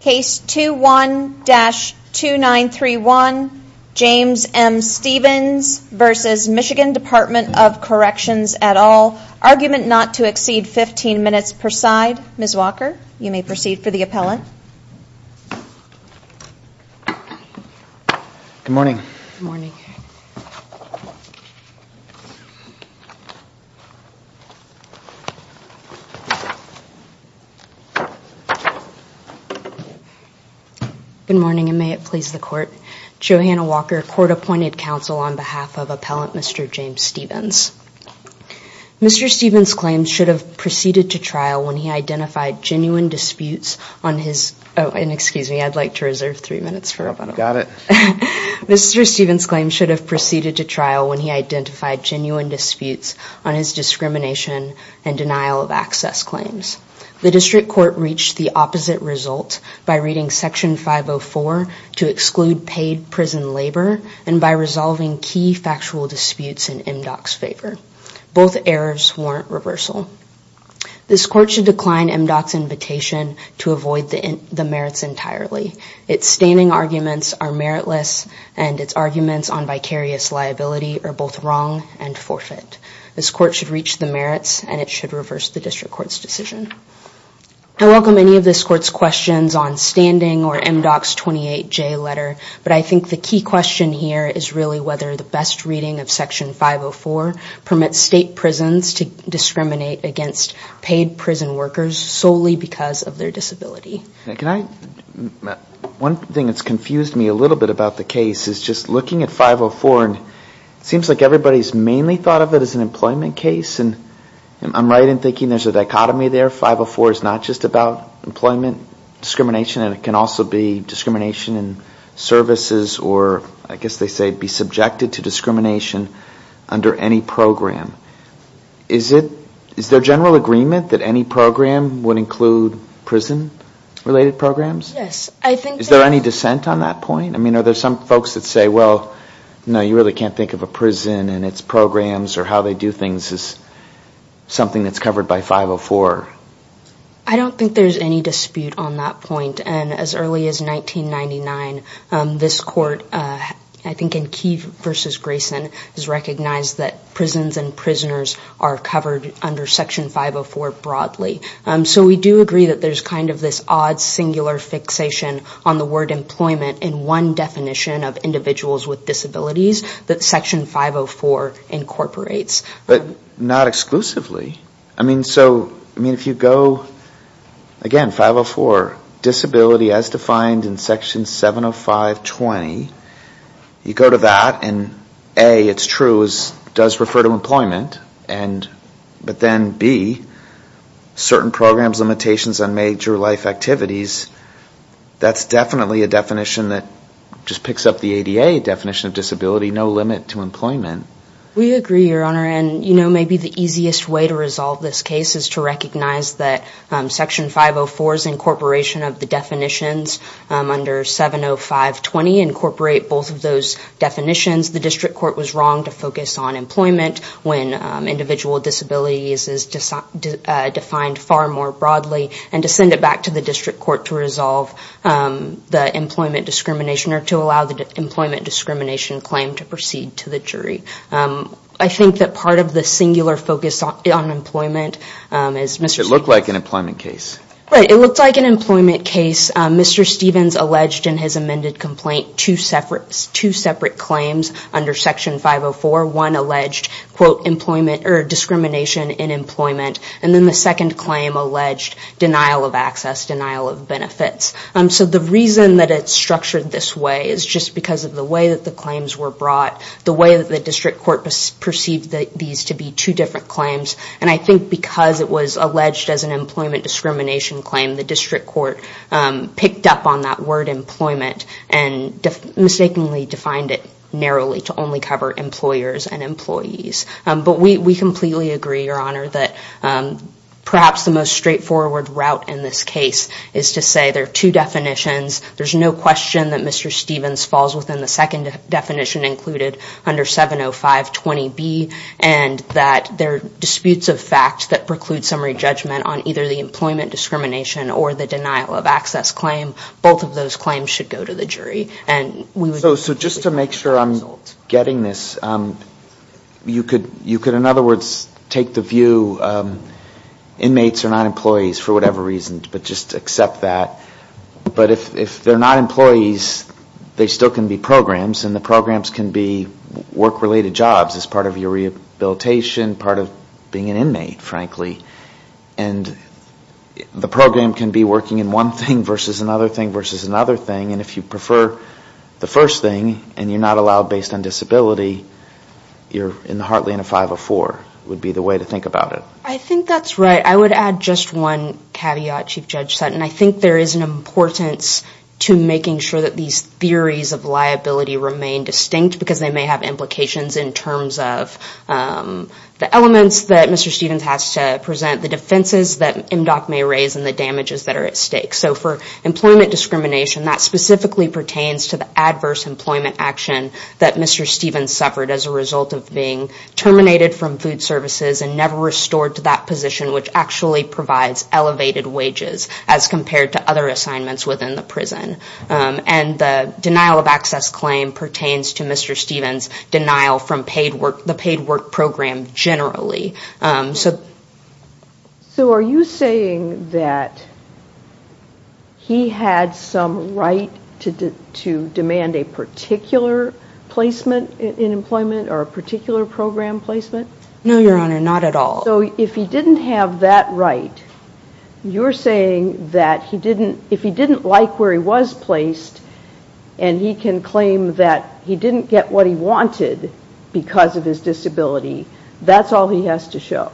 Case 21-2931, James M. Stevens v. Michigan Department of Corrections et al. Argument not to exceed 15 minutes per side. Ms. Walker, you may proceed for the appellant. Good morning. Good morning. Good morning, and may it please the Court. Johanna Walker, Court-Appointed Counsel on behalf of Appellant Mr. James Stevens. Mr. Stevens' claims should have proceeded to trial when he identified genuine disputes on his, oh and excuse me, I'd like to reserve three minutes. Got it. Mr. Stevens' claims should have proceeded to trial when he identified genuine disputes on his discrimination and denial of access claims. The District Court reached the opposite result by reading Section 504 to exclude paid prison labor and by resolving key factual disputes in MDOC's favor. Both errors warrant reversal. This Court should decline MDOC's invitation to avoid the merits entirely. Its standing arguments are meritless and its arguments on vicarious liability are both wrong and forfeit. This Court should reach the merits and it should reverse the District Court's decision. I welcome any of this Court's questions on whether the best reading of Section 504 permits state prisons to discriminate against paid prison workers solely because of their disability. Can I, one thing that's confused me a little bit about the case is just looking at 504 and it seems like everybody's mainly thought of it as an employment case and I'm right in thinking there's a dichotomy there. 504 is not just about employment discrimination and it can also be subjected to discrimination under any program. Is there general agreement that any program would include prison related programs? Yes. Is there any dissent on that point? I mean, are there some folks that say, well, no, you really can't think of a prison and its programs or how they do things as something that's covered by 504? I don't think there's any dispute on that point and as early as 1999, this Court I think in Key v. Grayson has recognized that prisons and prisoners are covered under Section 504 broadly. So we do agree that there's kind of this odd singular fixation on the word employment in one definition of individuals with disabilities that Section 504 incorporates. But not exclusively. I mean, so, I mean, if you go, again, 504, disability as defined in Section 705.20, you go to that and A, it's true, it does refer to employment, but then B, certain programs, limitations on major life activities, that's definitely a definition that just picks up the ADA definition of disability, no limit to employment. We agree, Your Honor, and maybe the easiest way to resolve this case is to recognize that Section 504's incorporation of the definitions under 705.20 incorporate both of those definitions. The District Court was wrong to focus on employment when individual disability is defined far more broadly and to send it back to the District Court to resolve the employment discrimination or to allow the employment discrimination claim to proceed to the jury. I think that part of the singular focus on employment is Mr. Stevens alleged in his amended complaint two separate claims under Section 504. One alleged, quote, employment or discrimination in employment, and then the second claim alleged denial of access, denial of benefits. So the reason that it's structured this way is just because of the way that the claims were brought, the way that the District Court perceived these to be two different claims, and I think because it was alleged as an employment discrimination claim, the District Court picked up on that word employment and mistakenly defined it narrowly to only cover employers and employees. But we completely agree, Your Honor, that perhaps the most straightforward route in this case is to say there are two definitions, there's no question that Mr. Stevens falls within the second definition included under 705.20b, and that there are disputes of fact that preclude summary judgment on either the employment discrimination or the denial of access claim. Both of those claims should go to the jury. So just to make sure I'm getting this, you could, in other words, take the view inmates are not employees for whatever reason, but just accept that. But if they're not employees, they still can be programs, and the programs can be work-related jobs as part of your rehabilitation, part of being an inmate, frankly, and the program can be working in one thing versus another thing versus another thing, and if you prefer the first thing and you're not allowed based on disability, you're in the heartland of 504 would be the way to think about it. I think that's right. I would add just one caveat, Chief Judge Sutton. I think there is an importance to making sure that these theories of liability remain distinct because they may have implications in terms of the elements that Mr. Stevens has to present, the defenses that MDOC may raise, and the damages that are at stake. So for employment discrimination, that specifically pertains to the adverse employment action that Mr. Stevens suffered as a result of being terminated from food services and never restored to that position, which actually provides elevated wages as compared to other assignments within the prison. And the denial of access claim pertains to Mr. Stevens' denial from the paid work program generally. So are you saying that he had some right to demand a particular placement in employment or a particular program placement? No, Your Honor, not at all. So if he didn't have that right, you're saying that if he didn't like where he was placed and he can claim that he didn't get what he wanted because of his disability, that's all he has to show?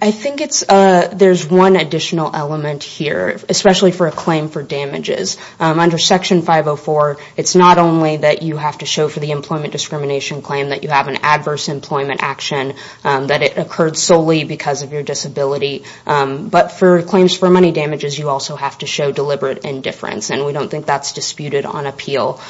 I think there's one additional element here, especially for a claim for damages. Under Section 504, it's not only that you have to show for the employment discrimination claim that you have an adverse employment action, that it occurred solely because of your disability, but for claims for money damages, you also have to show deliberate indifference, and we don't think that's disputed on appeal.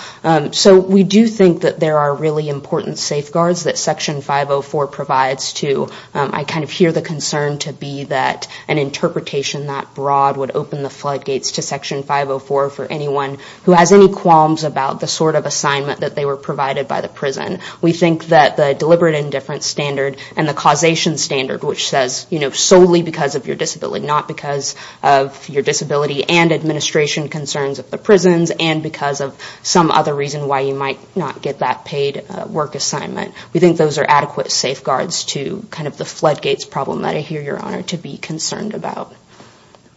So we do think that there are really important safeguards that Section 504 provides to. I kind of hear the concern to be that an interpretation that broad would open the floodgates to Section 504 for anyone who has any qualms about the sort of assignment that they were provided by the prison. We think that the deliberate indifference standard and the causation standard, which says solely because of your disability, not because of your disability and administration concerns of the prisons, and because of some other reason why you might not get that paid work assignment. We think those are adequate safeguards to kind of the floodgates problem that I hear, Your Honor, to be concerned about.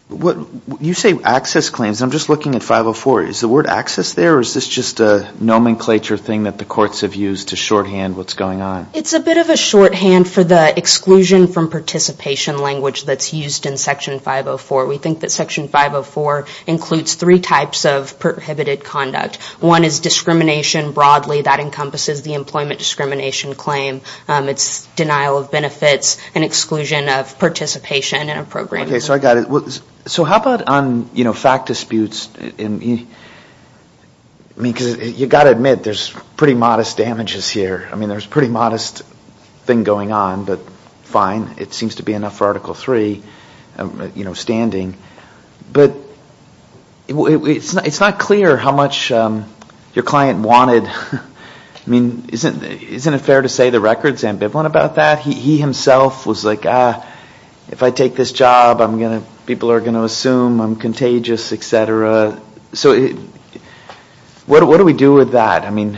You say access claims, and I'm just looking at 504. Is the word access there, or is this just a nomenclature thing that the courts have used to shorthand what's going on? It's a bit of a shorthand for the exclusion from participation language that's used in Section 504. We think that Section 504 includes three types of prohibited conduct. One is discrimination broadly. That encompasses the employment discrimination claim. It's denial of benefits and exclusion of participation in a program. Okay, so I got it. So how about on, you know, fact disputes? I mean, because you've got to admit there's pretty modest damages here. I mean, there's a pretty modest thing going on, but fine. It seems to be enough for Article III, you know, standing. But it's not clear how much your client wanted. I mean, isn't it fair to say the record's ambivalent about that? He himself was like, ah, if I take this job, people are going to assume I'm contagious, et cetera. So what do we do with that? I mean,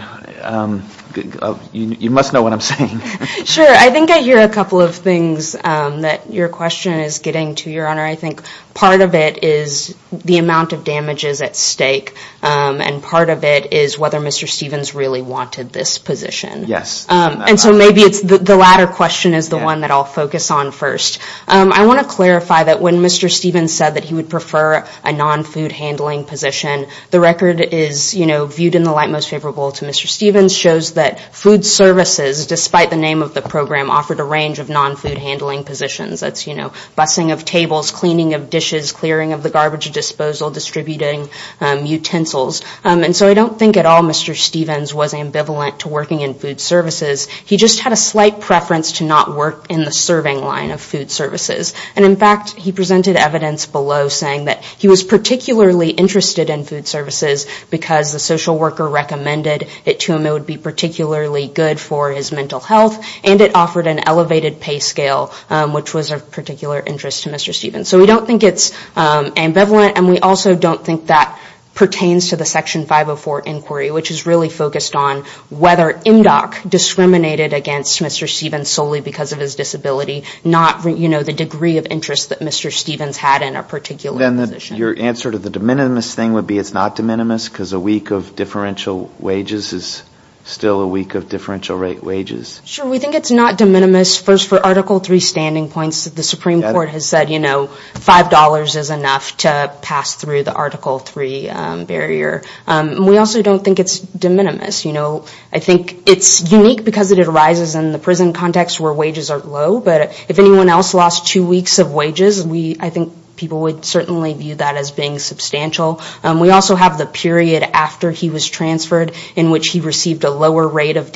you must know what I'm saying. Sure. I think I hear a couple of things that your question is getting to, Your Honor. I think part of it is the amount of damages at stake, and part of it is whether Mr. Stevens really wanted this position. Yes. And so maybe it's the latter question is the one that I'll focus on first. I want to clarify that when Mr. Stevens said that he would prefer a non-food handling position, the record is, you know, viewed in the light most favorable to Mr. Stevens, shows that food services, despite the name of the program, offered a range of non-food handling positions. That's, you know, busing of tables, cleaning of dishes, clearing of the garbage disposal, distributing utensils. And so I don't think at all Mr. Stevens was ambivalent to working in food services. He just had a slight preference to not work in the serving line of food services. And, in fact, he presented evidence below saying that he was particularly interested in food services because the social worker recommended it to him. It would be particularly good for his mental health. And it offered an elevated pay scale, which was of particular interest to Mr. Stevens. So we don't think it's ambivalent, and we also don't think that pertains to the Section 504 inquiry, which is really focused on whether MDOC discriminated against Mr. Stevens solely because of his disability, not, you know, the degree of interest that Mr. Stevens had in a particular position. Your answer to the de minimis thing would be it's not de minimis because a week of differential wages is still a week of differential rate wages. Sure, we think it's not de minimis. First, for Article III standing points, the Supreme Court has said, you know, $5 is enough to pass through the Article III barrier. We also don't think it's de minimis. You know, I think it's unique because it arises in the prison context where wages are low, but if anyone else lost two weeks of wages, I think people would certainly view that as being substantial. We also have the period after he was transferred in which he received a lower rate of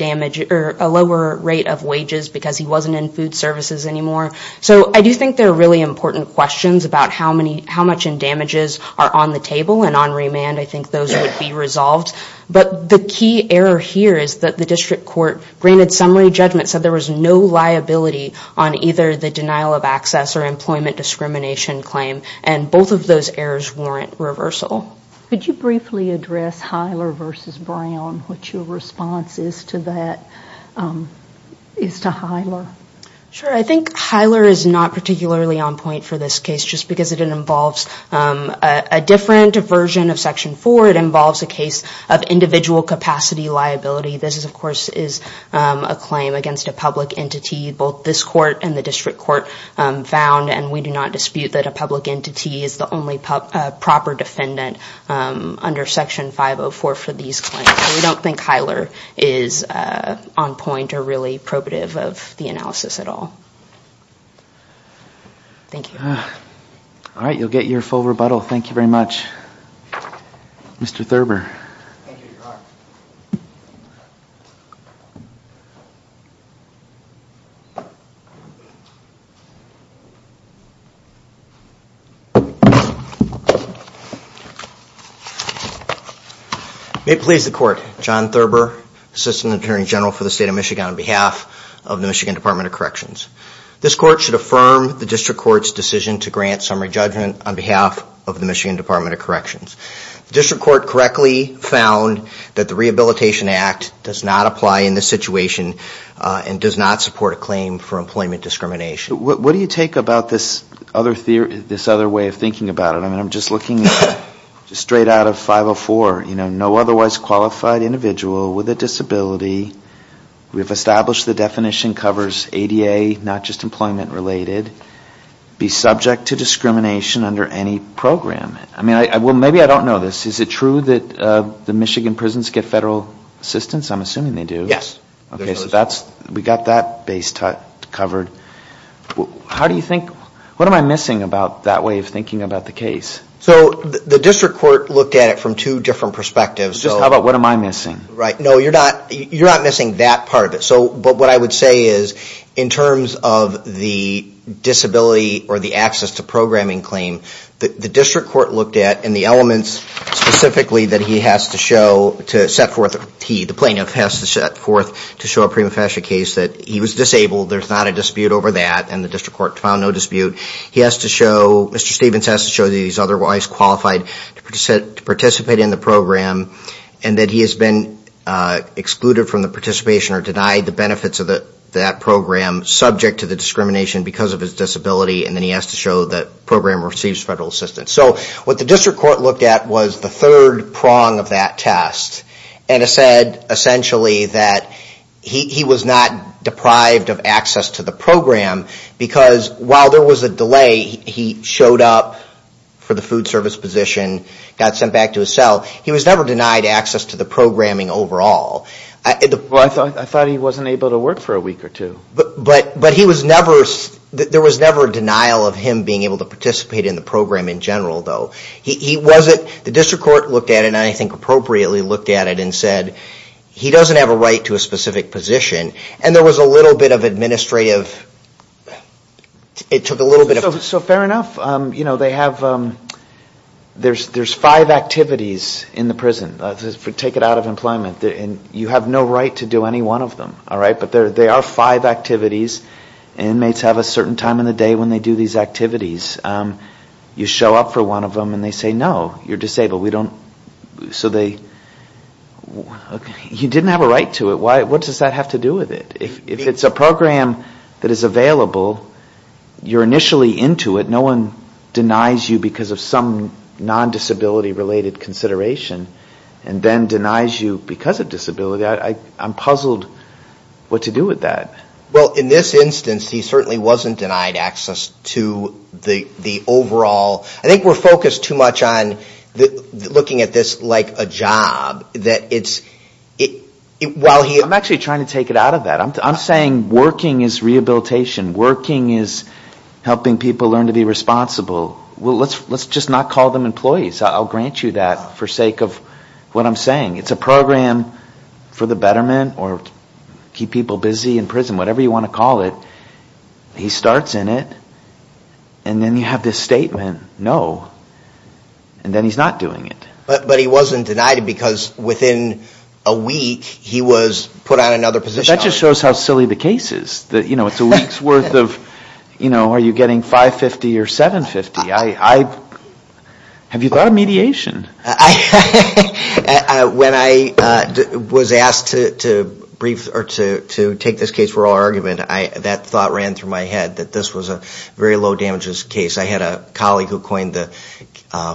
wages because he wasn't in food services anymore. So I do think there are really important questions about how much in damages are on the table and on remand. I think those would be resolved. But the key error here is that the district court granted summary judgment, said there was no liability on either the denial of access or employment discrimination claim, and both of those errors warrant reversal. Could you briefly address Hyler v. Brown, what your response is to that, is to Hyler? Sure. I think Hyler is not particularly on point for this case just because it involves a different version of Section IV. It involves a case of individual capacity liability. This, of course, is a claim against a public entity. Both this court and the district court found, and we do not dispute, that a public entity is the only proper defendant under Section 504 for these claims. So we don't think Hyler is on point or really probative of the analysis at all. Thank you. All right. You'll get your full rebuttal. Thank you very much. Mr. Thurber. Thank you, Your Honor. May it please the Court, John Thurber, Assistant Attorney General for the State of Michigan, on behalf of the Michigan Department of Corrections. This court should affirm the district court's decision to grant summary judgment on behalf of the Michigan Department of Corrections. The district court correctly found that the Rehabilitation Act does not apply in this situation and does not support a claim for employment discrimination. What do you take about this other way of thinking about it? I mean, I'm just looking straight out of 504. You know, no otherwise qualified individual with a disability. We've established the definition covers ADA, not just employment-related, be subject to discrimination under any program. I mean, well, maybe I don't know this. Is it true that the Michigan prisons get federal assistance? I'm assuming they do. Yes. Okay, so we've got that base covered. How do you think – what am I missing about that way of thinking about the case? So the district court looked at it from two different perspectives. Just how about what am I missing? Right. No, you're not missing that part of it. But what I would say is in terms of the disability or the access to programming claim, the district court looked at and the elements specifically that he has to show to set forth – he, the plaintiff, has to set forth to show a prima facie case that he was disabled, there's not a dispute over that, and the district court found no dispute. He has to show – Mr. Stephens has to show that he's otherwise qualified to participate in the program and that he has been excluded from the participation or denied the benefits of that program, subject to the discrimination because of his disability, and then he has to show that the program receives federal assistance. So what the district court looked at was the third prong of that test and it said essentially that he was not deprived of access to the program because while there was a delay, he showed up for the food service position, got sent back to his cell. He was never denied access to the programming overall. Well, I thought he wasn't able to work for a week or two. But he was never – there was never a denial of him being able to participate in the program in general, though. He wasn't – the district court looked at it and I think appropriately looked at it and said he doesn't have a right to a specific position. And there was a little bit of administrative – it took a little bit of – inmates in the prison, take it out of employment, and you have no right to do any one of them, all right? But there are five activities. Inmates have a certain time in the day when they do these activities. You show up for one of them and they say, no, you're disabled. We don't – so they – you didn't have a right to it. What does that have to do with it? If it's a program that is available, you're initially into it. No one denies you because of some non-disability-related consideration and then denies you because of disability. I'm puzzled what to do with that. Well, in this instance, he certainly wasn't denied access to the overall – I think we're focused too much on looking at this like a job, that it's – while he – I'm actually trying to take it out of that. I'm saying working is rehabilitation. Working is helping people learn to be responsible. Let's just not call them employees. I'll grant you that for sake of what I'm saying. It's a program for the betterment or keep people busy in prison, whatever you want to call it. He starts in it and then you have this statement, no, and then he's not doing it. But he wasn't denied it because within a week he was put on another position. That just shows how silly the case is. It's a week's worth of are you getting 550 or 750. Have you thought of mediation? When I was asked to take this case for oral argument, that thought ran through my head, that this was a very low-damages case. I had a colleague who coined the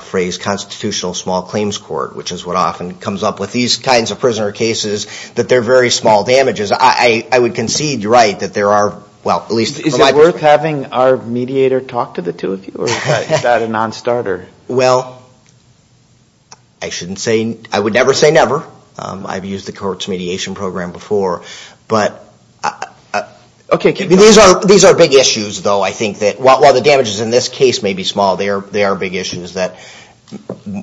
phrase constitutional small claims court, which is what often comes up with these kinds of prisoner cases, that they're very small damages. I would concede you're right that there are – well, at least – Is it worth having our mediator talk to the two of you or is that a non-starter? Well, I shouldn't say – I would never say never. I've used the court's mediation program before. These are big issues, though, I think, that while the damages in this case may be small, they are big issues that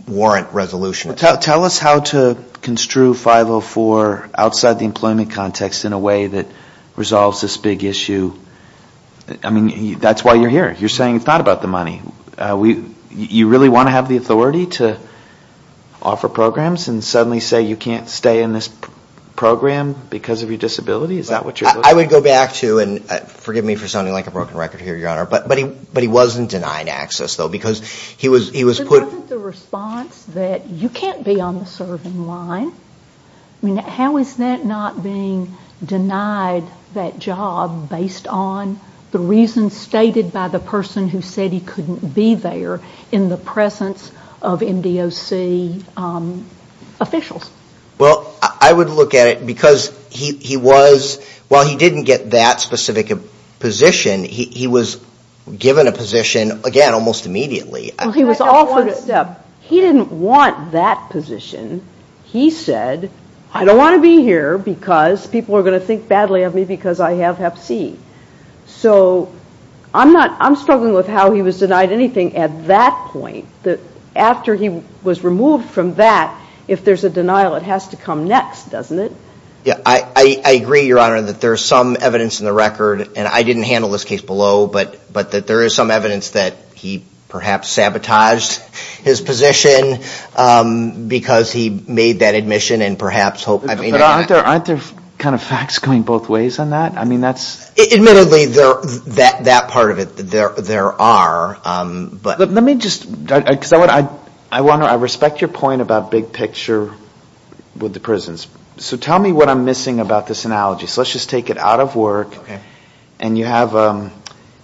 warrant resolution. Tell us how to construe 504 outside the employment context in a way that resolves this big issue. I mean, that's why you're here. You're saying it's not about the money. You really want to have the authority to offer programs and suddenly say you can't stay in this program because of your disability? Is that what you're looking at? I would go back to – and forgive me for sounding like a broken record here, Your Honor – but he wasn't denied access, though, because he was put – But wasn't the response that you can't be on the serving line – I mean, how is that not being denied that job based on the reasons stated by the person who said he couldn't be there in the presence of MDOC officials? Well, I would look at it because he was – while he didn't get that specific position, he was given a position, again, almost immediately. He didn't want that position. He said, I don't want to be here because people are going to think badly of me because I have Hep C. So I'm struggling with how he was denied anything at that point. After he was removed from that, if there's a denial, it has to come next, doesn't it? Yeah, I agree, Your Honor, that there's some evidence in the record – and I didn't handle this case below – but that there is some evidence that he perhaps sabotaged his position because he made that admission and perhaps – But aren't there kind of facts going both ways on that? Admittedly, that part of it, there are. Let me just – because I respect your point about big picture with the prisons. So tell me what I'm missing about this analogy. So let's just take it out of work. And you have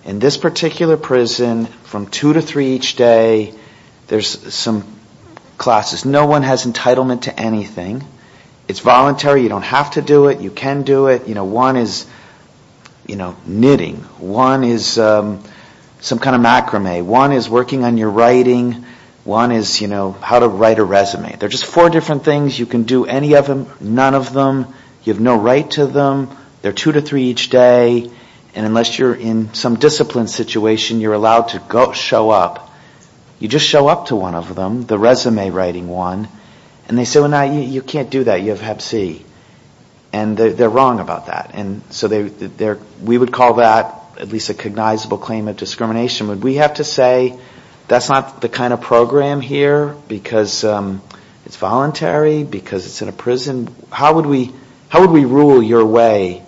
in this particular prison, from 2 to 3 each day, there's some classes. No one has entitlement to anything. It's voluntary. You don't have to do it. You can do it. One is knitting. One is some kind of macrame. One is working on your writing. One is how to write a resume. There are just four different things. You can do any of them, none of them. You have no right to them. They're 2 to 3 each day. And unless you're in some discipline situation, you're allowed to show up. You just show up to one of them, the resume writing one. And they say, well, no, you can't do that. You have Hep C. And they're wrong about that. And so we would call that at least a cognizable claim of discrimination. Would we have to say that's not the kind of program here because it's voluntary, because it's in a prison? How would we rule your way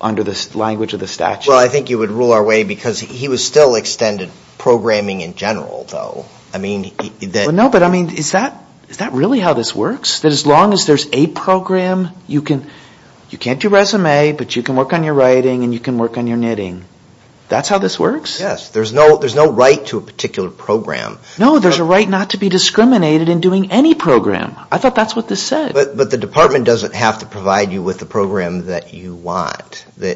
under the language of the statute? Well, I think you would rule our way because he was still extended programming in general, though. No, but, I mean, is that really how this works? That as long as there's a program, you can't do resume, but you can work on your writing and you can work on your knitting. That's how this works? Yes, there's no right to a particular program. No, there's a right not to be discriminated in doing any program. I thought that's what this said. But the department doesn't have to provide you with the program that you want. You're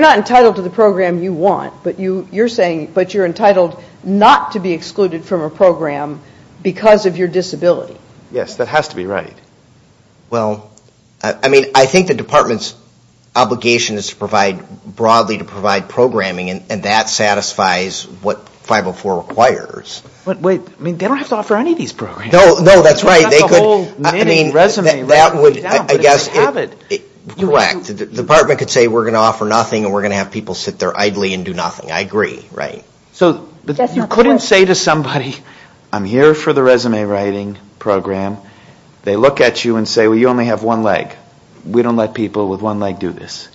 not entitled to the program you want, but you're saying, but you're entitled not to be excluded from a program because of your disability. Yes, that has to be right. Well, I mean, I think the department's obligation is to provide, broadly to provide programming, and that satisfies what 504 requires. But wait, I mean, they don't have to offer any of these programs. No, that's right. I mean, that would, I guess, correct. The department could say we're going to offer nothing and we're going to have people sit there idly and do nothing. I agree, right. So you couldn't say to somebody, I'm here for the resume writing program. They look at you and say, well, you only have one leg. We don't let people with one leg do this.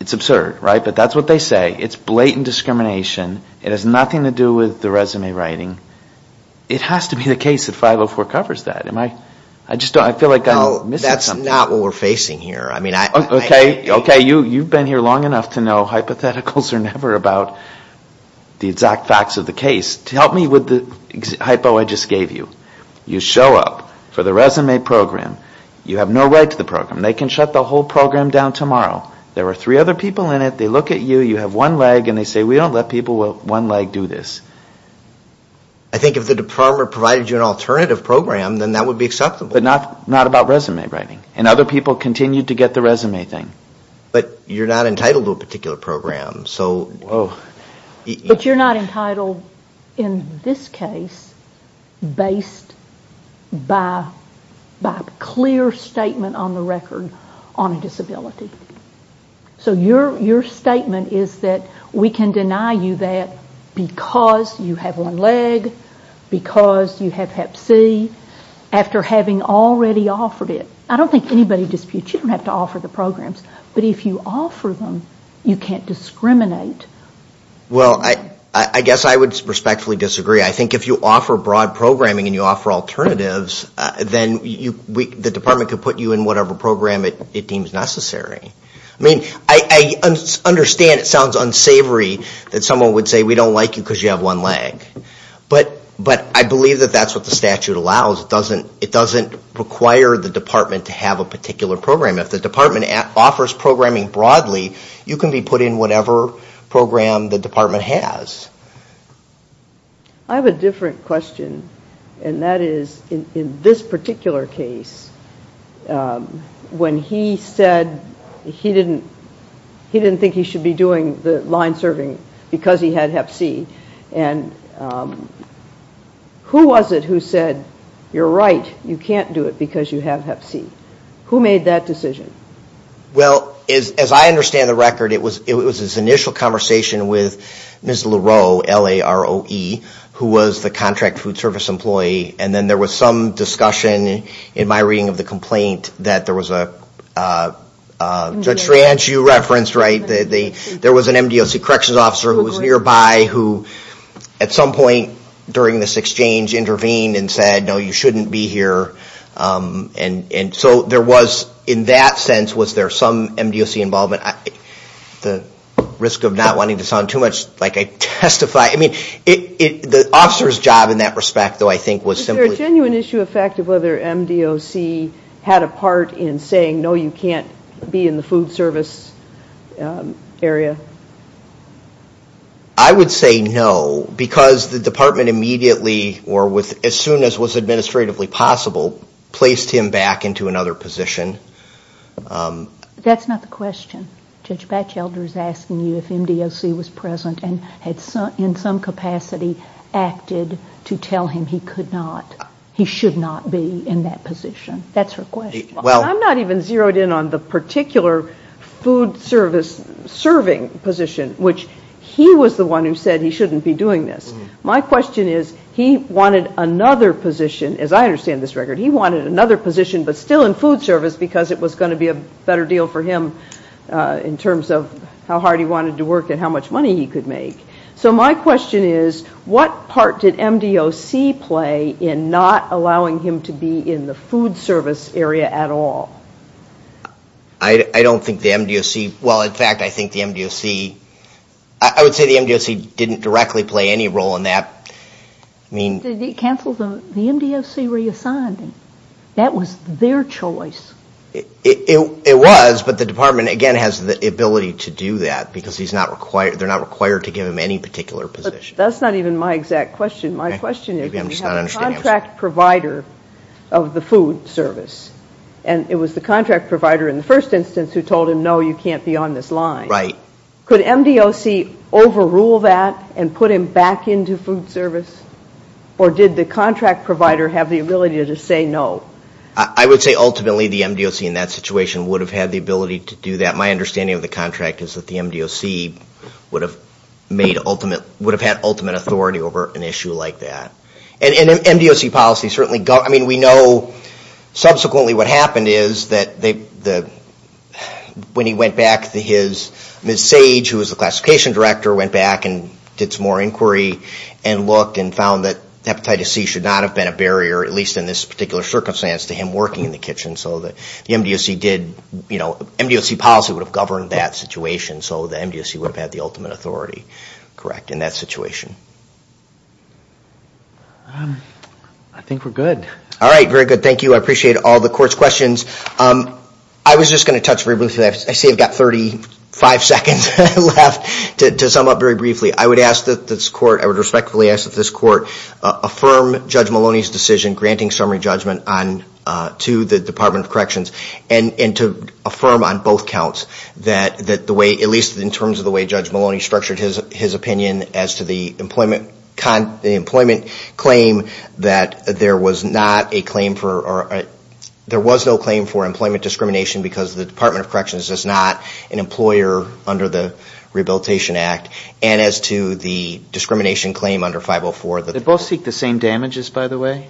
It's absurd, right? But that's what they say. It's blatant discrimination. It has nothing to do with the resume writing. It has to be the case that 504 covers that. I just don't, I feel like I'm missing something. No, that's not what we're facing here. Okay, okay, you've been here long enough to know hypotheticals are never about the exact facts of the case. Help me with the hypo I just gave you. You show up for the resume program. You have no right to the program. They can shut the whole program down tomorrow. There are three other people in it. They look at you. You have one leg. And they say, we don't let people with one leg do this. I think if the department provided you an alternative program, then that would be acceptable. But not about resume writing. And other people continue to get the resume thing. But you're not entitled to a particular program. But you're not entitled in this case based by a clear statement on the record on a disability. So your statement is that we can deny you that because you have one leg, because you have Hep C, after having already offered it. I don't think anybody disputes you don't have to offer the programs. But if you offer them, you can't discriminate. Well, I guess I would respectfully disagree. I think if you offer broad programming and you offer alternatives, then the department could put you in whatever program it deems necessary. I mean, I understand it sounds unsavory that someone would say we don't like you because you have one leg. But I believe that that's what the statute allows. It doesn't require the department to have a particular program. If the department offers programming broadly, you can be put in whatever program the department has. I have a different question. And that is, in this particular case, when he said he didn't think he should be doing the line serving because he had Hep C. And who was it who said, you're right, you can't do it because you have Hep C? Who made that decision? Well, as I understand the record, it was his initial conversation with Ms. LaRoe, L-A-R-O-E, who was the contract food service employee. And then there was some discussion in my reading of the complaint that there was a – Judge Tranch, you referenced, right? There was an MDOC corrections officer who was nearby who, at some point during this exchange, intervened and said, no, you shouldn't be here. And so there was, in that sense, was there some MDOC involvement? At the risk of not wanting to sound too much like I testify – I mean, the officer's job in that respect, though, I think was simply – Was there a genuine issue of whether MDOC had a part in saying, no, you can't be in the food service area? I would say no, because the department immediately, or as soon as was administratively possible, placed him back into another position. That's not the question. Judge Batchelder is asking you if MDOC was present and had, in some capacity, acted to tell him he could not, he should not be in that position. That's her question. I'm not even zeroed in on the particular food service serving position, which he was the one who said he shouldn't be doing this. My question is, he wanted another position, as I understand this record, he wanted another position but still in food service because it was going to be a better deal for him in terms of how hard he wanted to work and how much money he could make. So my question is, what part did MDOC play in not allowing him to be in the food service area at all? I don't think the MDOC – well, in fact, I think the MDOC – I would say the MDOC didn't directly play any role in that. Did it cancel the – the MDOC reassigned him. That was their choice. It was, but the department, again, has the ability to do that because they're not required to give him any particular position. But that's not even my exact question. My question is, we have a contract provider of the food service and it was the contract provider in the first instance who told him, no, you can't be on this line. Right. Could MDOC overrule that and put him back into food service or did the contract provider have the ability to say no? I would say ultimately the MDOC in that situation would have had the ability to do that. My understanding of the contract is that the MDOC would have made ultimate – would have had ultimate authority over an issue like that. And MDOC policy certainly – I mean, we know subsequently what happened is that they – when he went back to his – Ms. Sage, who was the classification director, went back and did some more inquiry and looked and found that hepatitis C should not have been a barrier, at least in this particular circumstance, to him working in the kitchen. So the MDOC did – MDOC policy would have governed that situation. So the MDOC would have had the ultimate authority, correct, in that situation. I think we're good. All right. Very good. Thank you. I appreciate all the court's questions. I was just going to touch briefly – I see I've got 35 seconds left to sum up very briefly. I would ask that this court – I would respectfully ask that this court affirm Judge Maloney's decision granting summary judgment on – to the Department of Corrections and to affirm on both counts that the way – at least in terms of the way Judge Maloney structured his opinion as to the employment claim that there was not a claim for – there was no claim for employment discrimination because the Department of Corrections is not an employer under the Rehabilitation Act and as to the discrimination claim under 504 that – They both seek the same damages, by the way,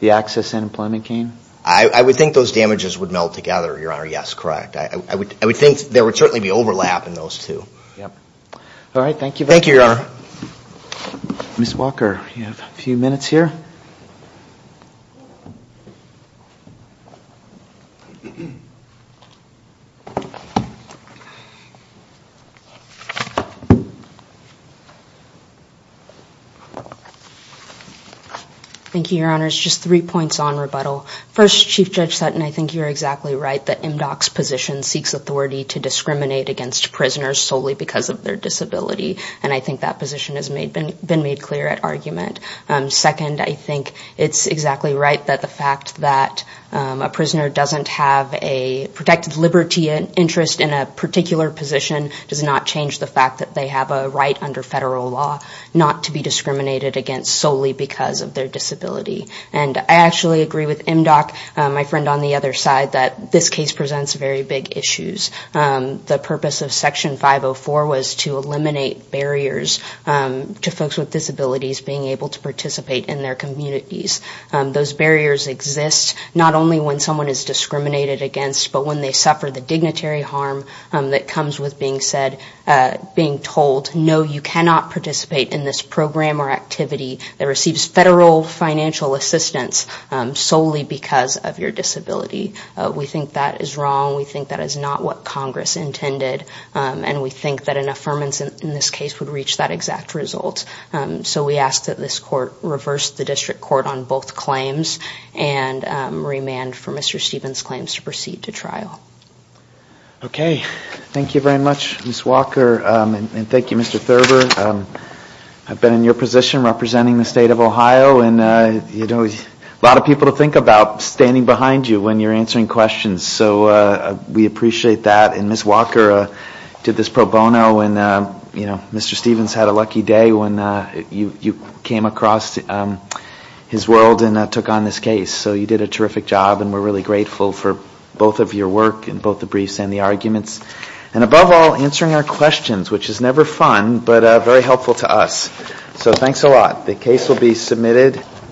the access and employment claim. I would think those damages would meld together, Your Honor. Yes, correct. I would think there would certainly be overlap in those two. Yep. All right. Thank you very much. Thank you, Your Honor. Ms. Walker, you have a few minutes here. Thank you, Your Honors. Just three points on rebuttal. First, Chief Judge Sutton, I think you're exactly right that MDOC's position seeks authority to discriminate against prisoners solely because of their disability. And I think that position has been made clear at argument. Second, I think it's exactly right that the fact that a prisoner doesn't have a protected liberty interest in a particular position does not change the fact that they have a right under federal law not to be discriminated against solely because of their disability. And I actually agree with MDOC, my friend on the other side, that this case presents very big issues. The purpose of Section 504 was to eliminate barriers to folks with disabilities being able to participate in their communities. Those barriers exist not only when someone is discriminated against, but when they suffer the dignitary harm that comes with being said, being told, no, you cannot participate in this program or activity that receives federal financial assistance solely because of your disability. We think that is wrong. We think that is not what Congress intended. And we think that an affirmance in this case would reach that exact result. So we ask that this court reverse the district court on both claims and remand for Mr. Stevens' claims to proceed to trial. Okay. Thank you very much, Ms. Walker. And thank you, Mr. Thurber. And, you know, a lot of people to think about standing behind you when you're answering questions. So we appreciate that. And Ms. Walker did this pro bono, and, you know, Mr. Stevens had a lucky day when you came across his world and took on this case. So you did a terrific job, and we're really grateful for both of your work and both the briefs and the arguments. And above all, answering our questions, which is never fun, but very helpful to us. So thanks a lot. The case will be submitted.